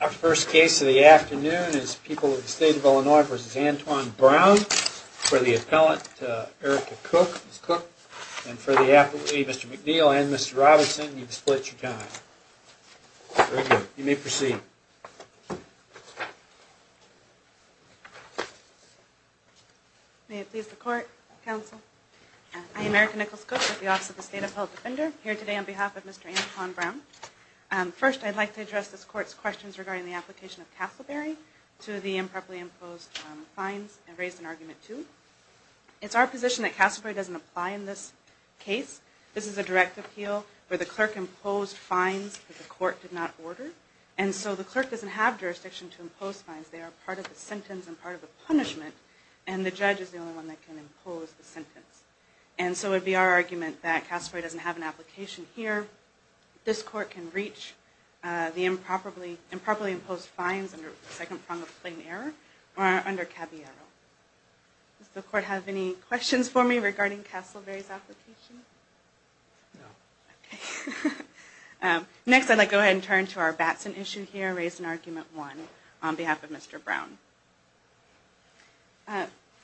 Our first case of the afternoon is People of the State of Illinois v. Antwon Brown for the appellant Erica Cook. Ms. Cook, and for Mr. McNeil and Mr. Robinson, you can split your time. Very good. You may proceed. May it please the court, counsel. I am Erica Nichols Cook with the Office of the State Appellate Defender here today on behalf of Mr. Antwon Brown. First, I'd like to address this court's questions regarding the application of Castleberry to the improperly imposed fines and raise an argument too. It's our position that Castleberry doesn't apply in this case. This is a direct appeal where the clerk imposed fines that the court did not order, and so the clerk doesn't have jurisdiction to impose fines. They are part of the sentence and part of the punishment, and the judge is the only one that can impose the sentence. And so it would be our argument that Castleberry doesn't have an application here. This court can reach the improperly imposed fines under the second prong of plain error or under cabbiero. Does the court have any questions for me regarding Castleberry's application? No. Okay. Next, I'd like to go ahead and turn to our Batson issue here, raise an argument one on behalf of Mr. Brown.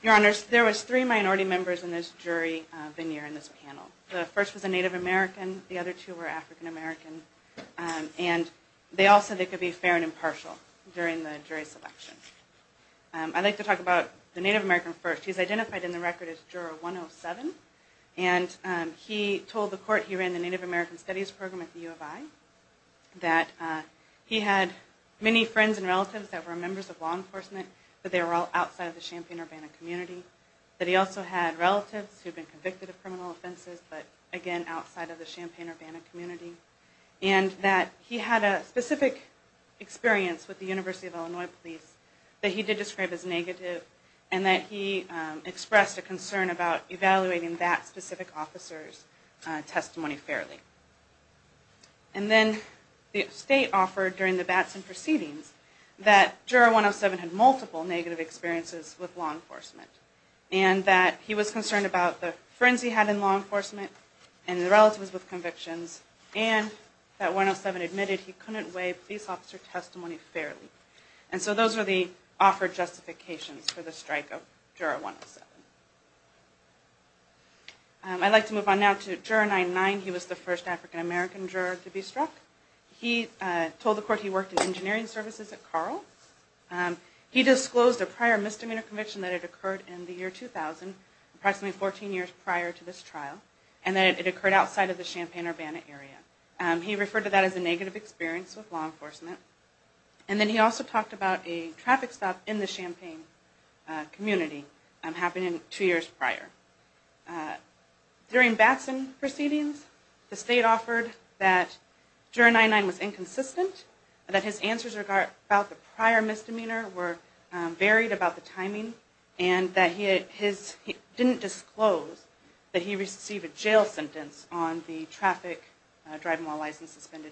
Your Honors, there was three minority members in this jury veneer in this panel. The first was a Native American, the other two were African American, and they all said they could be fair and impartial during the jury selection. I'd like to talk about the Native American first. He's identified in the record as Juror 107, and he told the court he ran the Native American Studies program at the U of I, that he had many friends and relatives that were members of law enforcement, but they were all outside of the Champaign-Urbana community. That he also had relatives who had been convicted of criminal offenses, but again, outside of the Champaign-Urbana community. And that he had a specific experience with the University of Illinois Police that he did describe as negative, and that he expressed a concern about evaluating that specific officer's testimony fairly. And then the state offered during the Batson proceedings that Juror 107 had multiple negative experiences with law enforcement, and that he was concerned about the friends he had in law enforcement and the relatives with convictions, and that 107 admitted he couldn't weigh police officer testimony fairly. And so those are the offered justifications for the strike of Juror 107. I'd like to move on now to Juror 9-9. He was the first African American juror to be struck. He told the court he worked in engineering services at Carle. He disclosed a prior misdemeanor conviction that had occurred in the year 2000, approximately 14 years prior to this trial, and that it occurred outside of the Champaign-Urbana area. He referred to that as a negative experience with law enforcement. And then he also talked about a traffic stop in the Champaign community happening two years prior. During Batson proceedings, the state offered that Juror 9-9 was inconsistent, that his answers about the prior misdemeanor were varied about the timing, and that he didn't disclose that he received a jail sentence on the traffic driving while license suspended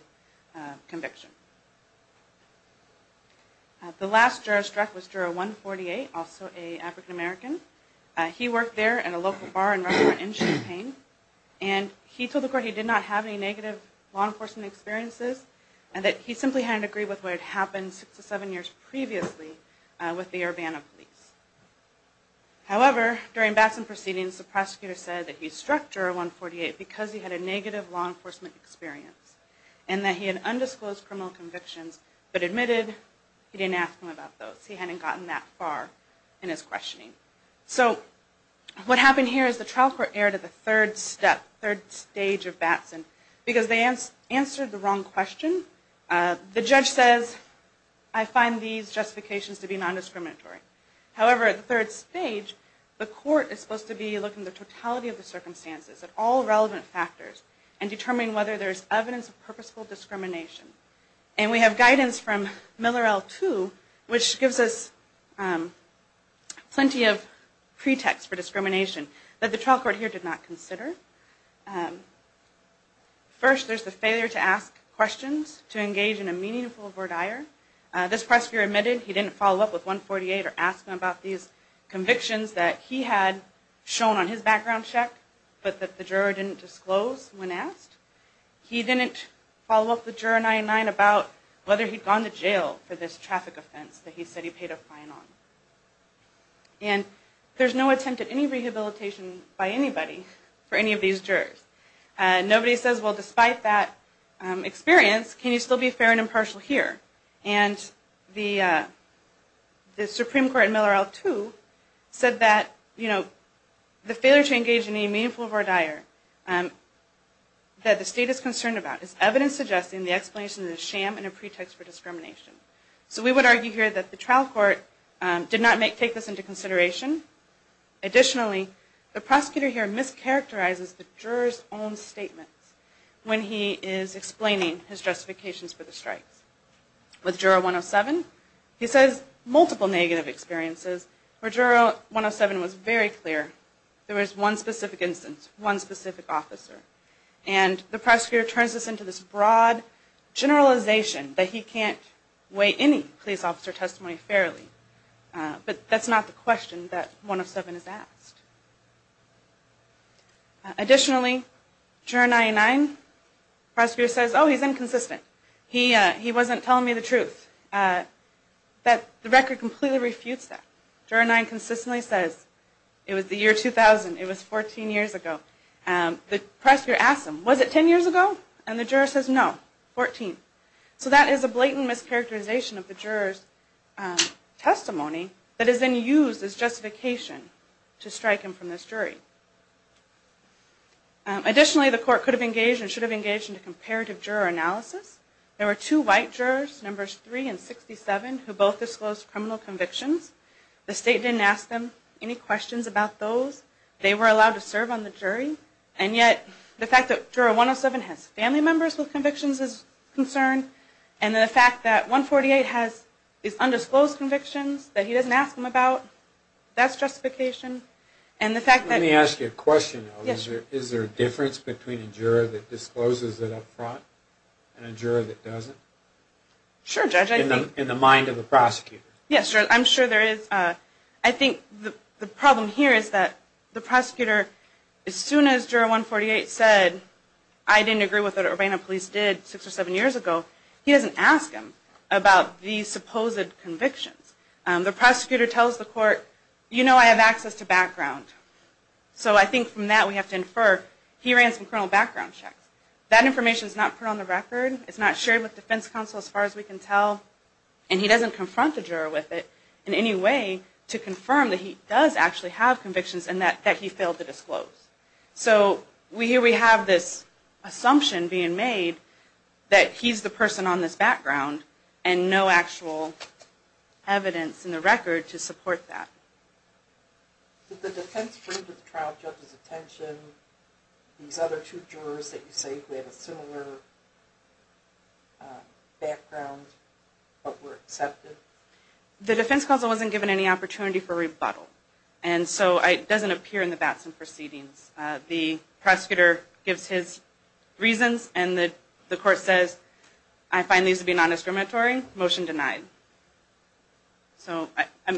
conviction. The last juror struck was Juror 148, also an African American. He worked there at a local bar and restaurant in Champaign, and he told the court he did not have any negative law enforcement experiences, and that he simply hadn't agreed with what had happened six or seven years previously with the Urbana police. However, during Batson proceedings, the prosecutor said that he struck Juror 148 because he had a negative law enforcement experience, and that he had undisclosed criminal convictions, but admitted he didn't ask him about those. He hadn't gotten that far in his questioning. So, what happened here is the trial court erred at the third stage of Batson, because they answered the wrong question. The judge says, I find these justifications to be non-discriminatory. However, at the third stage, the court is supposed to be looking at the totality of the circumstances, at all relevant factors, and determine whether there is evidence of purposeful discrimination. And we have guidance from Miller L2, which gives us plenty of pretext for discrimination that the trial court here did not consider. First, there's the failure to ask questions, to engage in a meaningful verdire. This prosecutor admitted he didn't follow up with 148 or ask him about these convictions that he had shown on his background check, but that the juror didn't disclose when asked. He didn't follow up with Juror 99 about whether he'd gone to jail for this traffic offense that he said he paid a fine on. And there's no attempt at any rehabilitation by anybody for any of these jurors. Nobody says, well, despite that experience, can you still be fair and impartial here? And the Supreme Court in Miller L2 said that the failure to engage in a meaningful verdire that the state is concerned about is evidence suggesting the explanation is a sham and a pretext for discrimination. So we would argue here that the trial court did not take this into consideration. Additionally, the prosecutor here mischaracterizes the juror's own statements when he is explaining his justifications for the strikes. With Juror 107, he says multiple negative experiences, where Juror 107 was very clear. There was one specific instance, one specific officer. And the prosecutor turns this into this broad generalization that he can't weigh any police officer testimony fairly. But that's not the question that 107 has asked. Additionally, Juror 99, the prosecutor says, oh, he's inconsistent. He wasn't telling me the truth. The record completely refutes that. Juror 9 consistently says, it was the year 2000. It was 14 years ago. The prosecutor asks him, was it 10 years ago? And the juror says, no, 14. So that is a blatant mischaracterization of the juror's testimony that is then used as justification to strike him from this jury. Additionally, the court could have engaged and should have engaged in a comparative juror analysis. There were two white jurors, numbers 3 and 67, who both disclosed criminal convictions. The state didn't ask them any questions about those. They were allowed to serve on the jury. And yet, the fact that Juror 107 has family members with convictions is concerned, and the fact that 148 has these undisclosed convictions that he doesn't ask them about, that's justification. Let me ask you a question. Is there a difference between a juror that discloses it up front and a juror that doesn't? In the mind of the prosecutor? Yes, I'm sure there is. I think the problem here is that the prosecutor, as soon as Juror 148 said, I didn't agree with what the Urbana police did 6 or 7 years ago, he doesn't ask him about the supposed convictions. The prosecutor tells the court, you know I have access to background. So I think from that we have to infer he ran some criminal background checks. That information is not put on the record, it's not shared with defense counsel as far as we can tell, and he doesn't confront the juror with it in any way to confirm that he does actually have convictions and that he failed to disclose. So here we have this assumption being made that he's the person on this background and no actual evidence in the record to support that. Did the defense bring to the trial judge's attention these other two jurors that you say have a similar background but were accepted? The defense counsel wasn't given any opportunity for rebuttal and so it doesn't appear in the Batson proceedings. The prosecutor gives his reasons and the court says, I find these to be non-discriminatory, motion denied. So in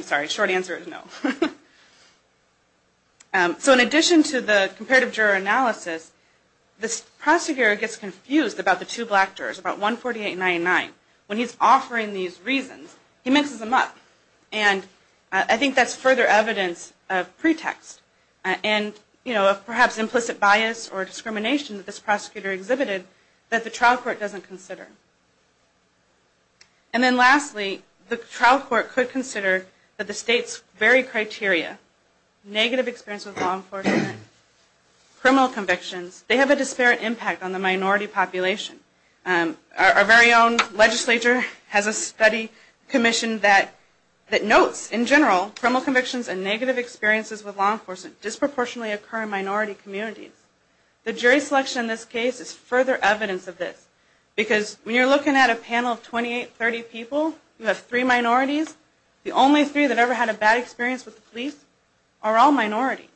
addition to the comparative juror analysis, this prosecutor gets confused about the two black jurors, about 148 and 99. When he's offering these reasons, he mixes them up and I think that's further evidence of pretext and perhaps implicit bias or discrimination that this prosecutor exhibited that the trial court doesn't consider. And then lastly, the trial court could consider that the state's very criteria, negative experience with law enforcement, criminal convictions, they have a disparate impact on the minority population. Our very own legislature has a study commission that notes, in general, criminal convictions and negative experiences with law enforcement disproportionately occur in minority communities. The jury selection in this case is further evidence of this because when you're looking at a panel of 28, 30 people, you have three minorities, the only three that ever had a bad experience with the police are all minorities.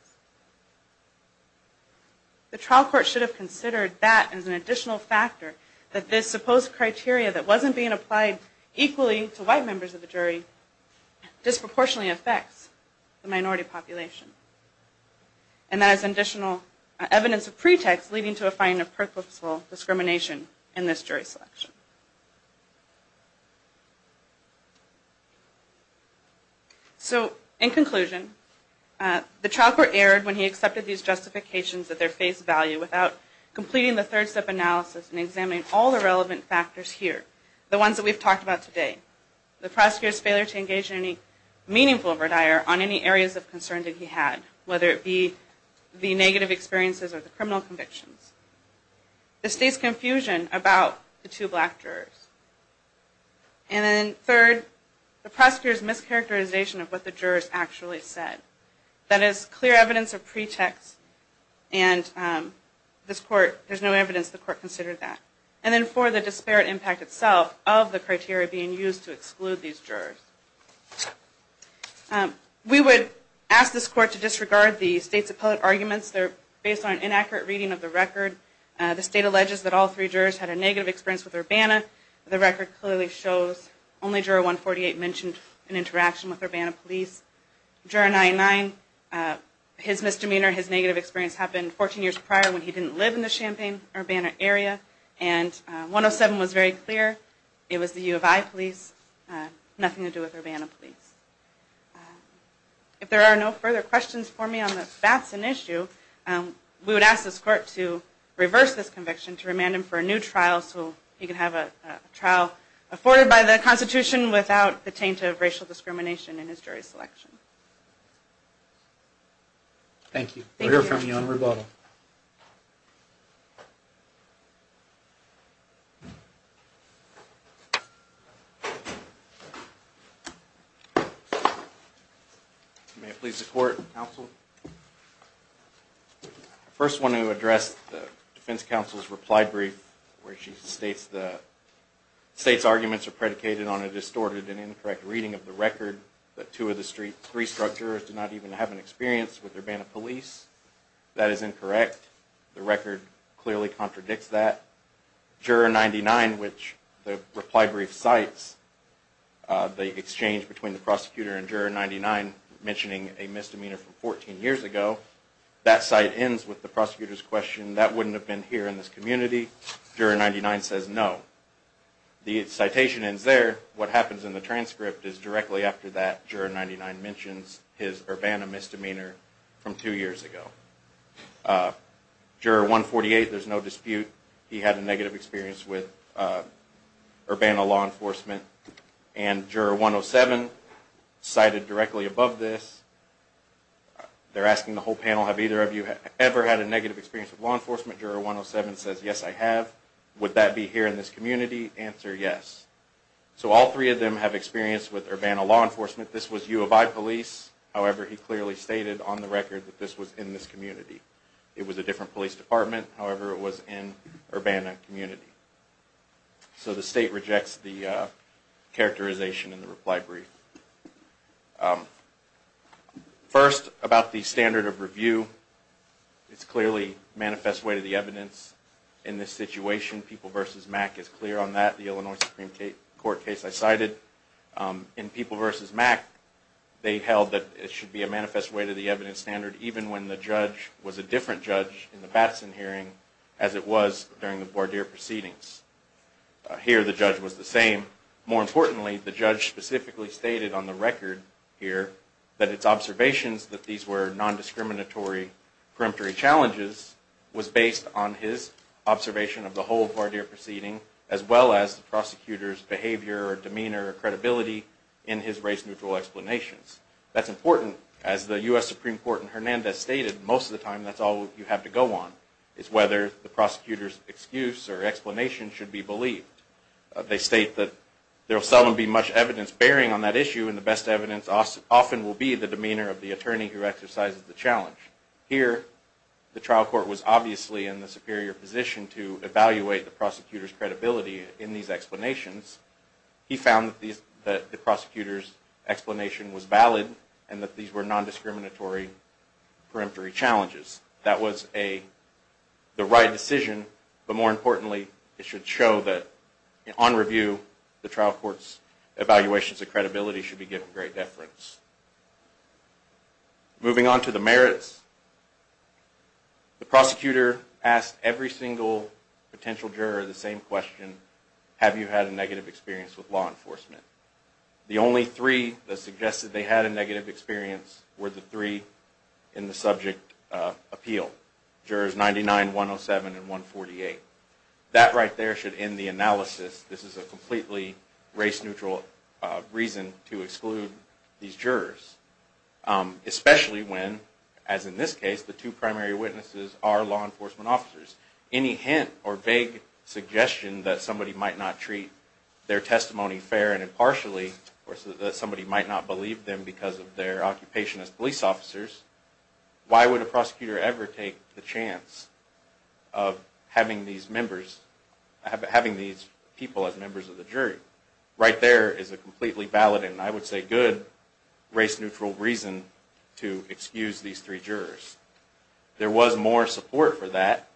The trial court should have considered that as an additional factor, that this supposed criteria that wasn't being applied equally to white members of the jury disproportionately affects the minority population. And that is additional evidence of pretext leading to a finding of purposeful discrimination in this jury selection. So, in conclusion, the trial court erred when he accepted these justifications at their face value without completing the third step analysis and examining all the relevant factors here, the ones that we've talked about today. The prosecutor's failure to engage in any meaningful or dire on any areas of concern that he had, whether it be the negative experiences or the criminal convictions. The state's confusion about the two black jurors. And then third, the prosecutor's mischaracterization of what the jurors actually said. That is clear evidence of pretext and this court, there's no evidence the court considered that. And then four, the disparate impact itself of the criteria being used to exclude these jurors. We would ask this court to disregard the state's appellate arguments. They're based on an inaccurate reading of the record. The state alleges that all three jurors had a negative experience with Urbana. The record clearly shows only juror 148 mentioned an interaction with Urbana police. Juror 99, his misdemeanor, his negative experience happened 14 years prior when he didn't live in the Champaign-Urbana area. And 107 was very clear. It was the U of I police. Nothing to do with Urbana police. If there are no further questions for me on the Batson issue, we would ask this court to reverse this conviction to remand him for a new trial so he can have a trial afforded by the Constitution without the taint of racial discrimination in his jury selection. Thank you. We'll hear from you on rebuttal. Thank you. May it please the court, counsel. I first want to address the defense counsel's reply brief where she states the state's arguments are predicated on a distorted and incorrect reading of the record that two of the three struck jurors did not even have an experience with Urbana police. That is incorrect. The record clearly contradicts that. Juror 99, which the reply brief cites the exchange between the prosecutor and Juror 99 mentioning a misdemeanor from 14 years ago, that cite ends with the prosecutor's question, that wouldn't have been here in this community. Juror 99 says no. The citation ends there. What happens in the transcript is directly after that, Juror 99 mentions his Urbana misdemeanor from two years ago. Juror 148, there's no dispute. He had a negative experience with Urbana law enforcement. And Juror 107, cited directly above this, they're asking the whole panel, have either of you ever had a negative experience with law enforcement? Juror 107 says yes, I have. Would that be here in this community? Answer, yes. So all three of them have experience with Urbana law enforcement. This was U of I police. However, he clearly stated on the record that this was in this community. It was a different police department. However, it was in Urbana community. So the state rejects the characterization in the reply brief. First, about the standard of review. It's clearly manifest way to the evidence in this situation. People v. Mack is clear on that. The Illinois Supreme Court case I cited. In People v. Mack, they held that it should be a manifest way to the evidence standard, even when the judge was a different judge in the Batson hearing as it was during the voir dire proceedings. Here, the judge was the same. More importantly, the judge specifically stated on the record here that its observations that these were nondiscriminatory preemptory challenges was based on his observation of the whole voir dire proceeding, as well as the prosecutor's behavior or demeanor or credibility in his race-neutral explanations. That's important. As the U.S. Supreme Court in Hernandez stated, most of the time that's all you have to go on, is whether the prosecutor's excuse or explanation should be believed. They state that there will seldom be much evidence bearing on that issue, and the best evidence often will be the demeanor of the attorney who exercises the challenge. Here, the trial court was obviously in the superior position to evaluate the prosecutor's credibility in these explanations. He found that the prosecutor's explanation was valid and that these were nondiscriminatory preemptory challenges. That was the right decision, but more importantly, it should show that on review, the trial court's evaluations of credibility should be given great deference. Moving on to the merits. The prosecutor asked every single potential juror the same question, have you had a negative experience with law enforcement? The only three that suggested they had a negative experience were the three in the subject appeal. Jurors 99, 107, and 148. That right there should end the analysis. This is a completely race neutral reason to exclude these jurors. Especially when, as in this case, the two primary witnesses are law enforcement officers. Any hint or vague suggestion that somebody might not treat their testimony fair and impartially, or that somebody might not believe them because of their occupation as police officers, why would a prosecutor ever take the chance of having these people as members of the jury? Right there is a completely valid, and I would say good, race neutral reason to excuse these three jurors. There was more support for that.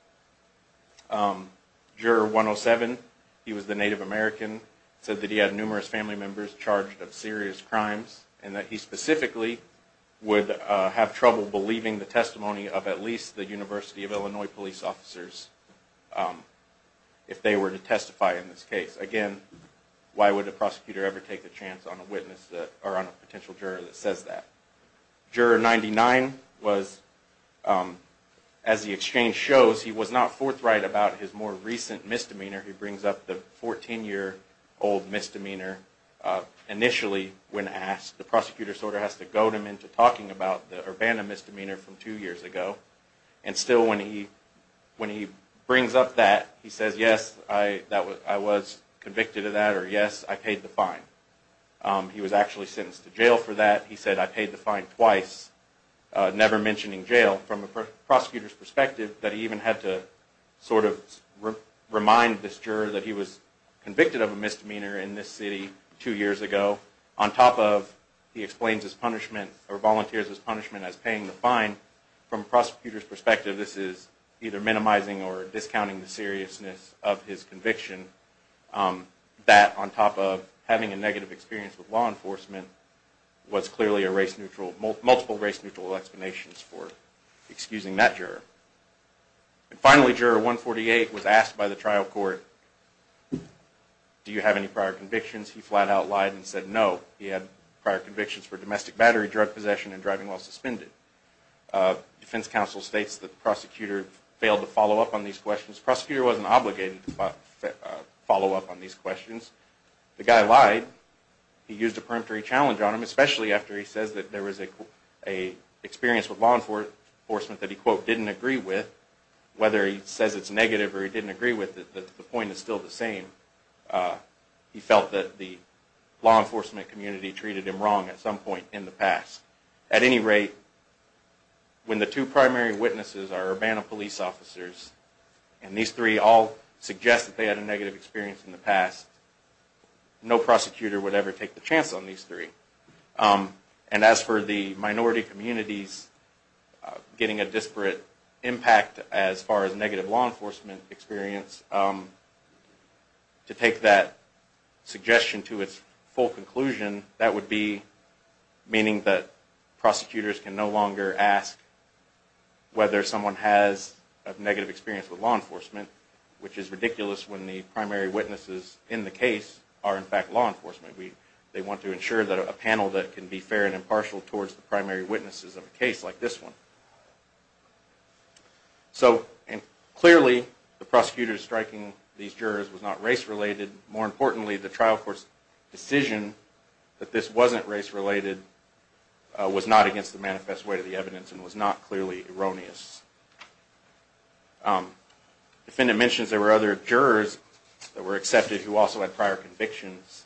Juror 107, he was the Native American, said that he had numerous family members charged of serious crimes, and that he specifically would have trouble believing the testimony of at least the University of Illinois police officers if they were to testify in this case. Again, why would a prosecutor ever take the chance on a potential juror that says that? Juror 99 was, as the exchange shows, he was not forthright about his more recent misdemeanor. He brings up the 14-year-old misdemeanor. Initially, when asked, the prosecutor sort of has to goad him into talking about the Urbana misdemeanor from two years ago. And still, when he brings up that, he says, yes, I was convicted of that, or yes, I paid the fine. He was actually sentenced to jail for that. He said, I paid the fine twice, never mentioning jail. From a prosecutor's perspective, that he even had to sort of remind this juror that he was convicted of a misdemeanor in this city two years ago. On top of, he explains his punishment, or volunteers his punishment as paying the fine. From a prosecutor's perspective, this is either minimizing or discounting the seriousness of his conviction. That, on top of having a negative experience with law enforcement, was clearly a race-neutral, multiple race-neutral explanations for excusing that juror. And finally, Juror 148 was asked by the trial court, do you have any prior convictions? He flat out lied and said no. He had prior convictions for domestic battery, drug possession, and driving while suspended. Defense counsel states that the prosecutor failed to follow up on these questions. The prosecutor wasn't obligated to follow up on these questions. The guy lied. He used a peremptory challenge on him, especially after he says that there was an experience with law enforcement that he, quote, didn't agree with. Whether he says it's negative or he didn't agree with it, the point is still the same. He felt that the law enforcement community treated him wrong at some point in the past. At any rate, when the two primary witnesses are Urbana police officers, and these three all suggest that they had a negative experience in the past, no prosecutor would ever take the chance on these three. And as for the minority communities getting a disparate impact as far as negative law enforcement experience, to take that suggestion to its full conclusion, that would be meaning that prosecutors can no longer ask whether someone has a negative experience with law enforcement, which is ridiculous when the primary witnesses in the case are in fact law enforcement. They want to ensure that a panel that can be fair and impartial towards the primary witnesses of a case like this one. So, clearly, the prosecutor striking these jurors was not race-related. More importantly, the trial court's decision that this wasn't race-related was not against the manifest weight of the evidence and was not clearly erroneous. The defendant mentions there were other jurors that were accepted who also had prior convictions.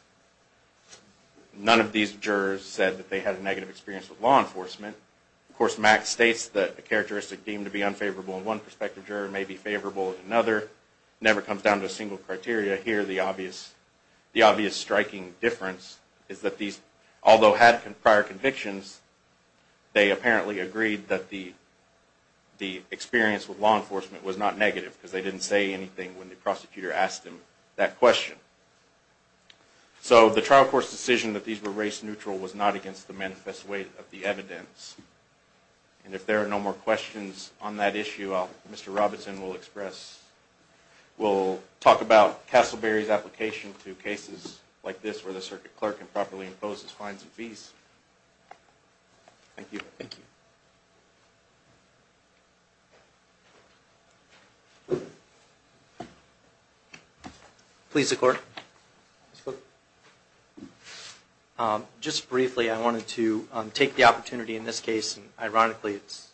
None of these jurors said that they had a negative experience with law enforcement. Of course, Mack states that a characteristic deemed to be unfavorable in one prospective juror may be favorable in another. It never comes down to a single criteria. Here, the obvious striking difference is that these, although had prior convictions, they apparently agreed that the experience with law enforcement was not negative, because they didn't say anything when the prosecutor asked them that question. So, the trial court's decision that these were race-neutral was not against the manifest weight of the evidence. And if there are no more questions on that issue, Mr. Robinson will express, will talk about Castleberry's application to cases like this where the circuit clerk improperly imposes fines and fees. Thank you. Thank you. Please, the court. Just briefly, I wanted to take the opportunity in this case, and ironically, it's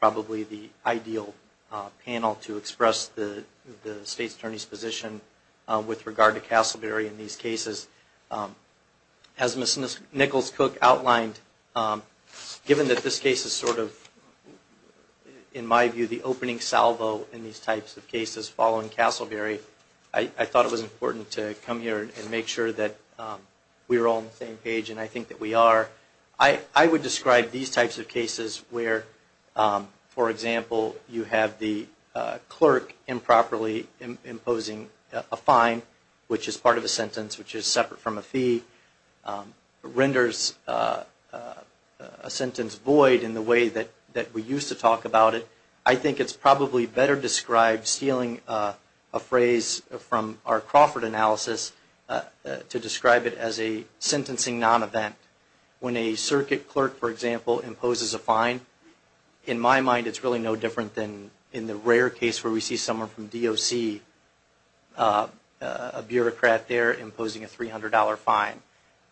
probably the ideal panel to express the State's Attorney's position with regard to Castleberry in these cases. As Ms. Nichols-Cook outlined, given that this case is sort of, in my view, the opening salvo in these types of cases following Castleberry, I thought it was important to come here and make sure that we were all on the same page, and I think that we are. I would describe these types of cases where, for example, you have the clerk improperly imposing a fine, which is part of a sentence, which is separate from a fee, renders a sentence void in the way that we used to talk about it. I think it's probably better described, stealing a phrase from our Crawford analysis, to describe it as a sentencing non-event. When a circuit clerk, for example, imposes a fine, in my mind it's really no different than in the rare case where we see someone from DOC, a bureaucrat there imposing a $300 fine.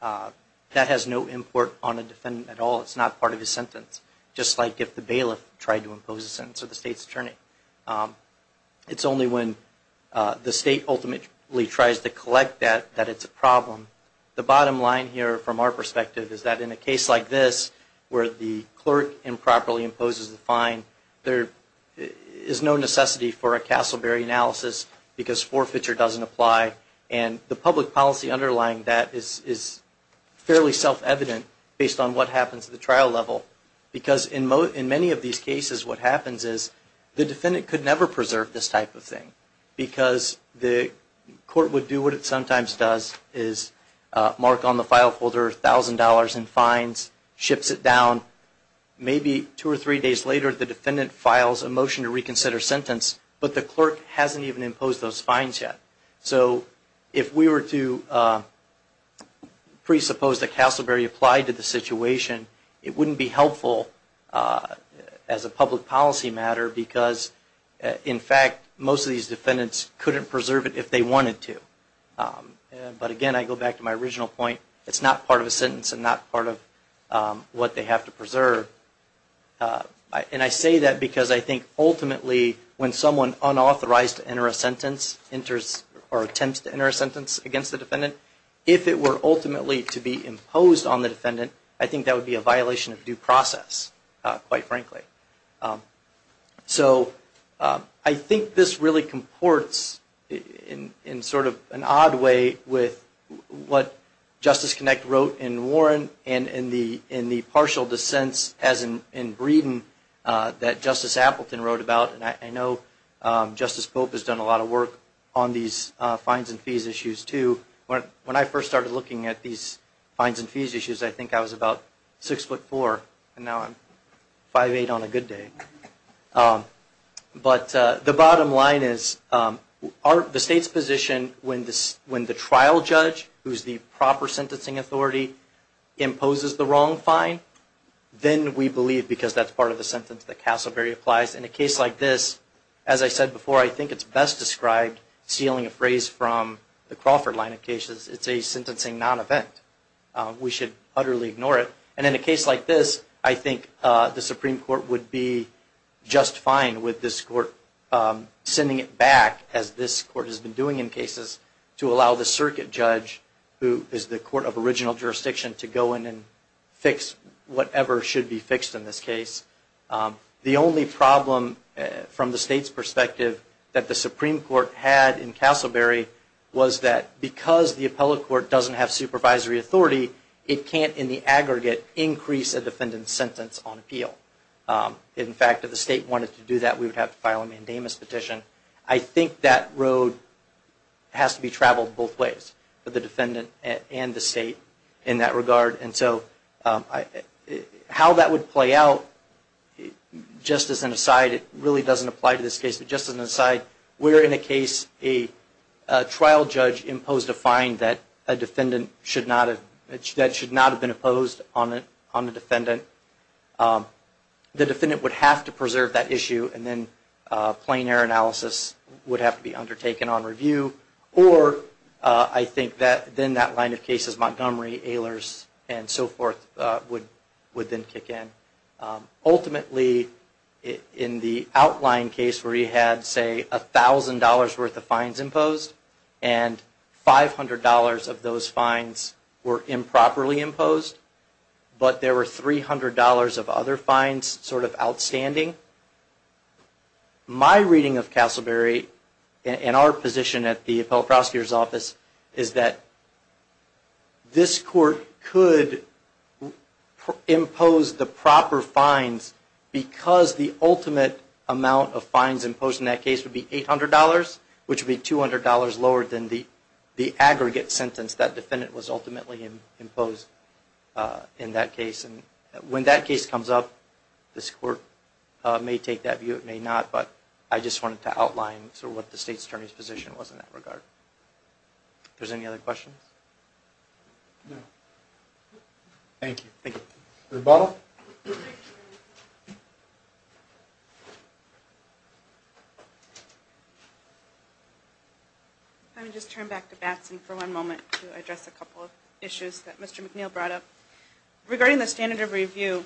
That has no import on a defendant at all, it's not part of his sentence, just like if the bailiff tried to impose a sentence on the State's Attorney. It's only when the State ultimately tries to collect that, that it's a problem. The bottom line here, from our perspective, is that in a case like this, where the clerk improperly imposes the fine, there is no necessity for a Castleberry analysis, because forfeiture doesn't apply. And the public policy underlying that is fairly self-evident, based on what happens at the trial level. Because in many of these cases, what happens is, the defendant could never preserve this type of thing. Because the court would do what it sometimes does, is mark on the file folder $1,000 in fines, ships it down. Maybe two or three days later, the defendant files a motion to reconsider sentence, but the clerk hasn't even imposed those fines yet. So if we were to presuppose that Castleberry applied to the situation, it wouldn't be helpful as a public policy matter, because in fact, most of these defendants couldn't preserve it if they wanted to. But again, I go back to my original point, it's not part of a sentence and not part of what they have to preserve. And I say that because I think ultimately, when someone unauthorized to enter a sentence, or attempts to enter a sentence against the defendant, if it were ultimately to be imposed on the defendant, I think that would be a violation of due process, quite frankly. So, I think this really comports, in sort of an odd way, with what Justice Kinect wrote in Warren, and in the partial dissents, as in Breeden, that Justice Appleton wrote about. And I know Justice Pope has done a lot of work on these fines and fees issues too. When I first started looking at these fines and fees issues, I think I was about 6'4", and now I'm 5'8", on a good day. But the bottom line is, the state's position, when the trial judge, who's the proper sentencing authority, imposes the wrong fine, then we believe, because that's part of the sentence that Castleberry applies. In a case like this, as I said before, I think it's best described, stealing a phrase from the Crawford line of cases, it's a sentencing non-event. We should utterly ignore it. And in a case like this, I think the Supreme Court would be just fine with this court sending it back, as this court has been doing in cases, to allow the circuit judge, who is the court of original jurisdiction, to go in and fix whatever should be fixed in this case. The only problem, from the state's perspective, that the Supreme Court had in Castleberry, was that because the appellate court doesn't have supervisory authority, in fact, if the state wanted to do that, we would have to file a mandamus petition. I think that road has to be traveled both ways, for the defendant and the state, in that regard. And so, how that would play out, just as an aside, it really doesn't apply to this case, but just as an aside, we're in a case where a trial judge imposed a fine that should not have been imposed on the defendant. The defendant would have to preserve that issue, and then plain error analysis would have to be undertaken on review. Or, I think then that line of cases, Montgomery, Ehlers, and so forth, would then kick in. Ultimately, in the outline case, where you had, say, $1,000 worth of fines imposed, and $500 of those fines were improperly imposed, but there were $300 of other fines sort of outstanding, my reading of Castleberry, and our position at the Appellate Prosecutor's Office, is that this court could impose the proper fines, because the ultimate amount of fines imposed in that case would be $800, which would be $200 lower than the aggregate sentence that defendant was ultimately imposed. When that case comes up, this court may take that view, it may not, but I just wanted to outline sort of what the State's Attorney's position was in that regard. If there's any other questions? No. Thank you. Thank you. Ms. Bottle? I'm going to just turn back to Batson for one moment to address a couple of issues that Mr. McNeil brought up. Regarding the standard of review,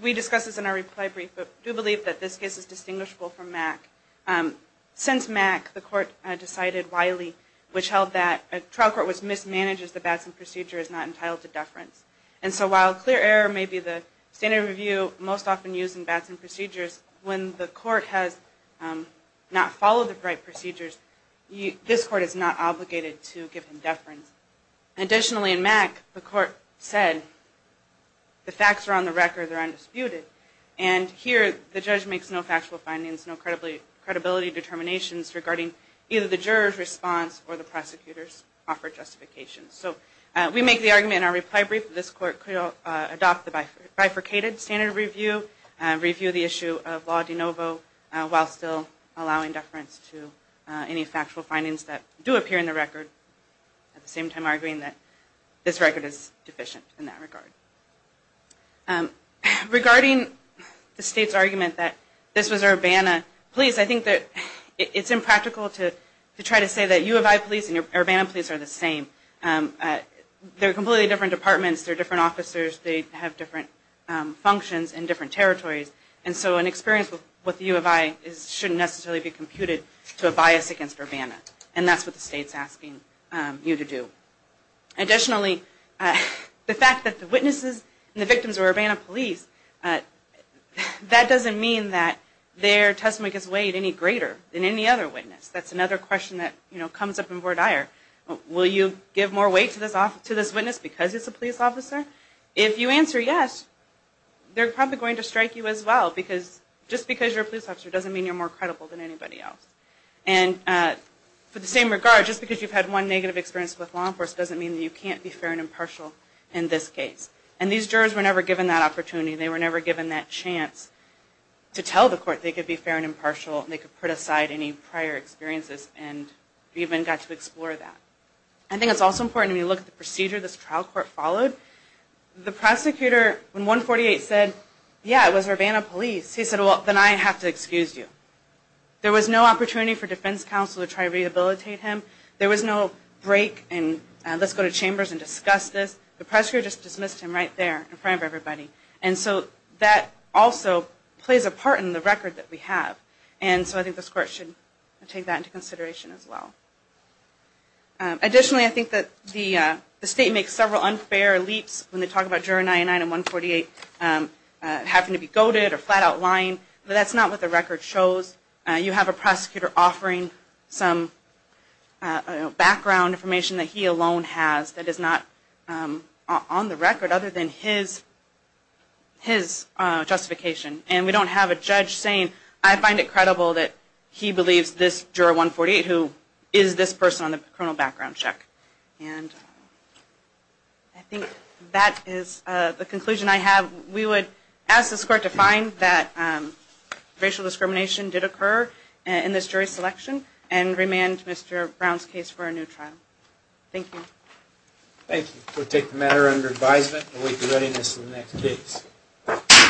we discussed this in our reply brief, but we do believe that this case is distinguishable from Mack. Since Mack, the court decided wily, which held that a trial court which mismanages the Batson procedure is not entitled to deference. And so while clear error may be the standard of review most often used in Batson procedures, when the court has not followed the right procedures, this court is not obligated to give him deference. Additionally, in Mack, the court said the facts are on the record, they're undisputed. And here, the judge makes no factual findings, no credibility determinations regarding either the juror's response or the prosecutor's offer of justification. So we make the argument in our reply brief that this court could adopt the bifurcated standard of review, review the issue of Law de Novo, while still allowing deference to individuals. We don't make any factual findings that do appear in the record, at the same time arguing that this record is deficient in that regard. Regarding the state's argument that this was Urbana police, I think that it's impractical to try to say that U of I police and Urbana police are the same. They're completely different departments, they're different officers, they have different functions in different territories, and so an experience with U of I shouldn't necessarily be computed to a bias against Urbana. And that's what the state's asking you to do. Additionally, the fact that the witnesses and the victims are Urbana police, that doesn't mean that their testimony gets weighed any greater than any other witness. That's another question that comes up in court higher. Will you give more weight to this witness because it's a police officer? If you answer yes, they're probably going to strike you as well, because just because you're a police officer doesn't mean you're more credible than anybody else. And for the same regard, just because you've had one negative experience with law enforcement doesn't mean that you can't be fair and impartial in this case. And these jurors were never given that opportunity, they were never given that chance to tell the court they could be fair and impartial and they could put aside any prior experiences and even got to explore that. I think it's also important when you look at the procedure this trial court followed, the prosecutor in 148 said, yeah, it was Urbana police. He said, well, then I have to excuse you. There was no opportunity for defense counsel to try to rehabilitate him. There was no break, and let's go to chambers and discuss this. The prosecutor just dismissed him right there in front of everybody. And so that also plays a part in the record that we have. And so I think this court should take that into consideration as well. Additionally, I think that the state makes several unfair leaps when they talk about juror 99 in 148 having to be goaded or flat out lying. But that's not what the record shows. You have a prosecutor offering some background information that he alone has that is not on the record other than his justification. And we don't have a judge saying, I find it credible that he believes this juror 148 who is this person on the criminal background check. And I think that is the conclusion I have. And we would ask this court to find that racial discrimination did occur in this jury selection and remand Mr. Brown's case for a new trial. Thank you. Thank you. We'll take the matter under advisement and await the readiness of the next case.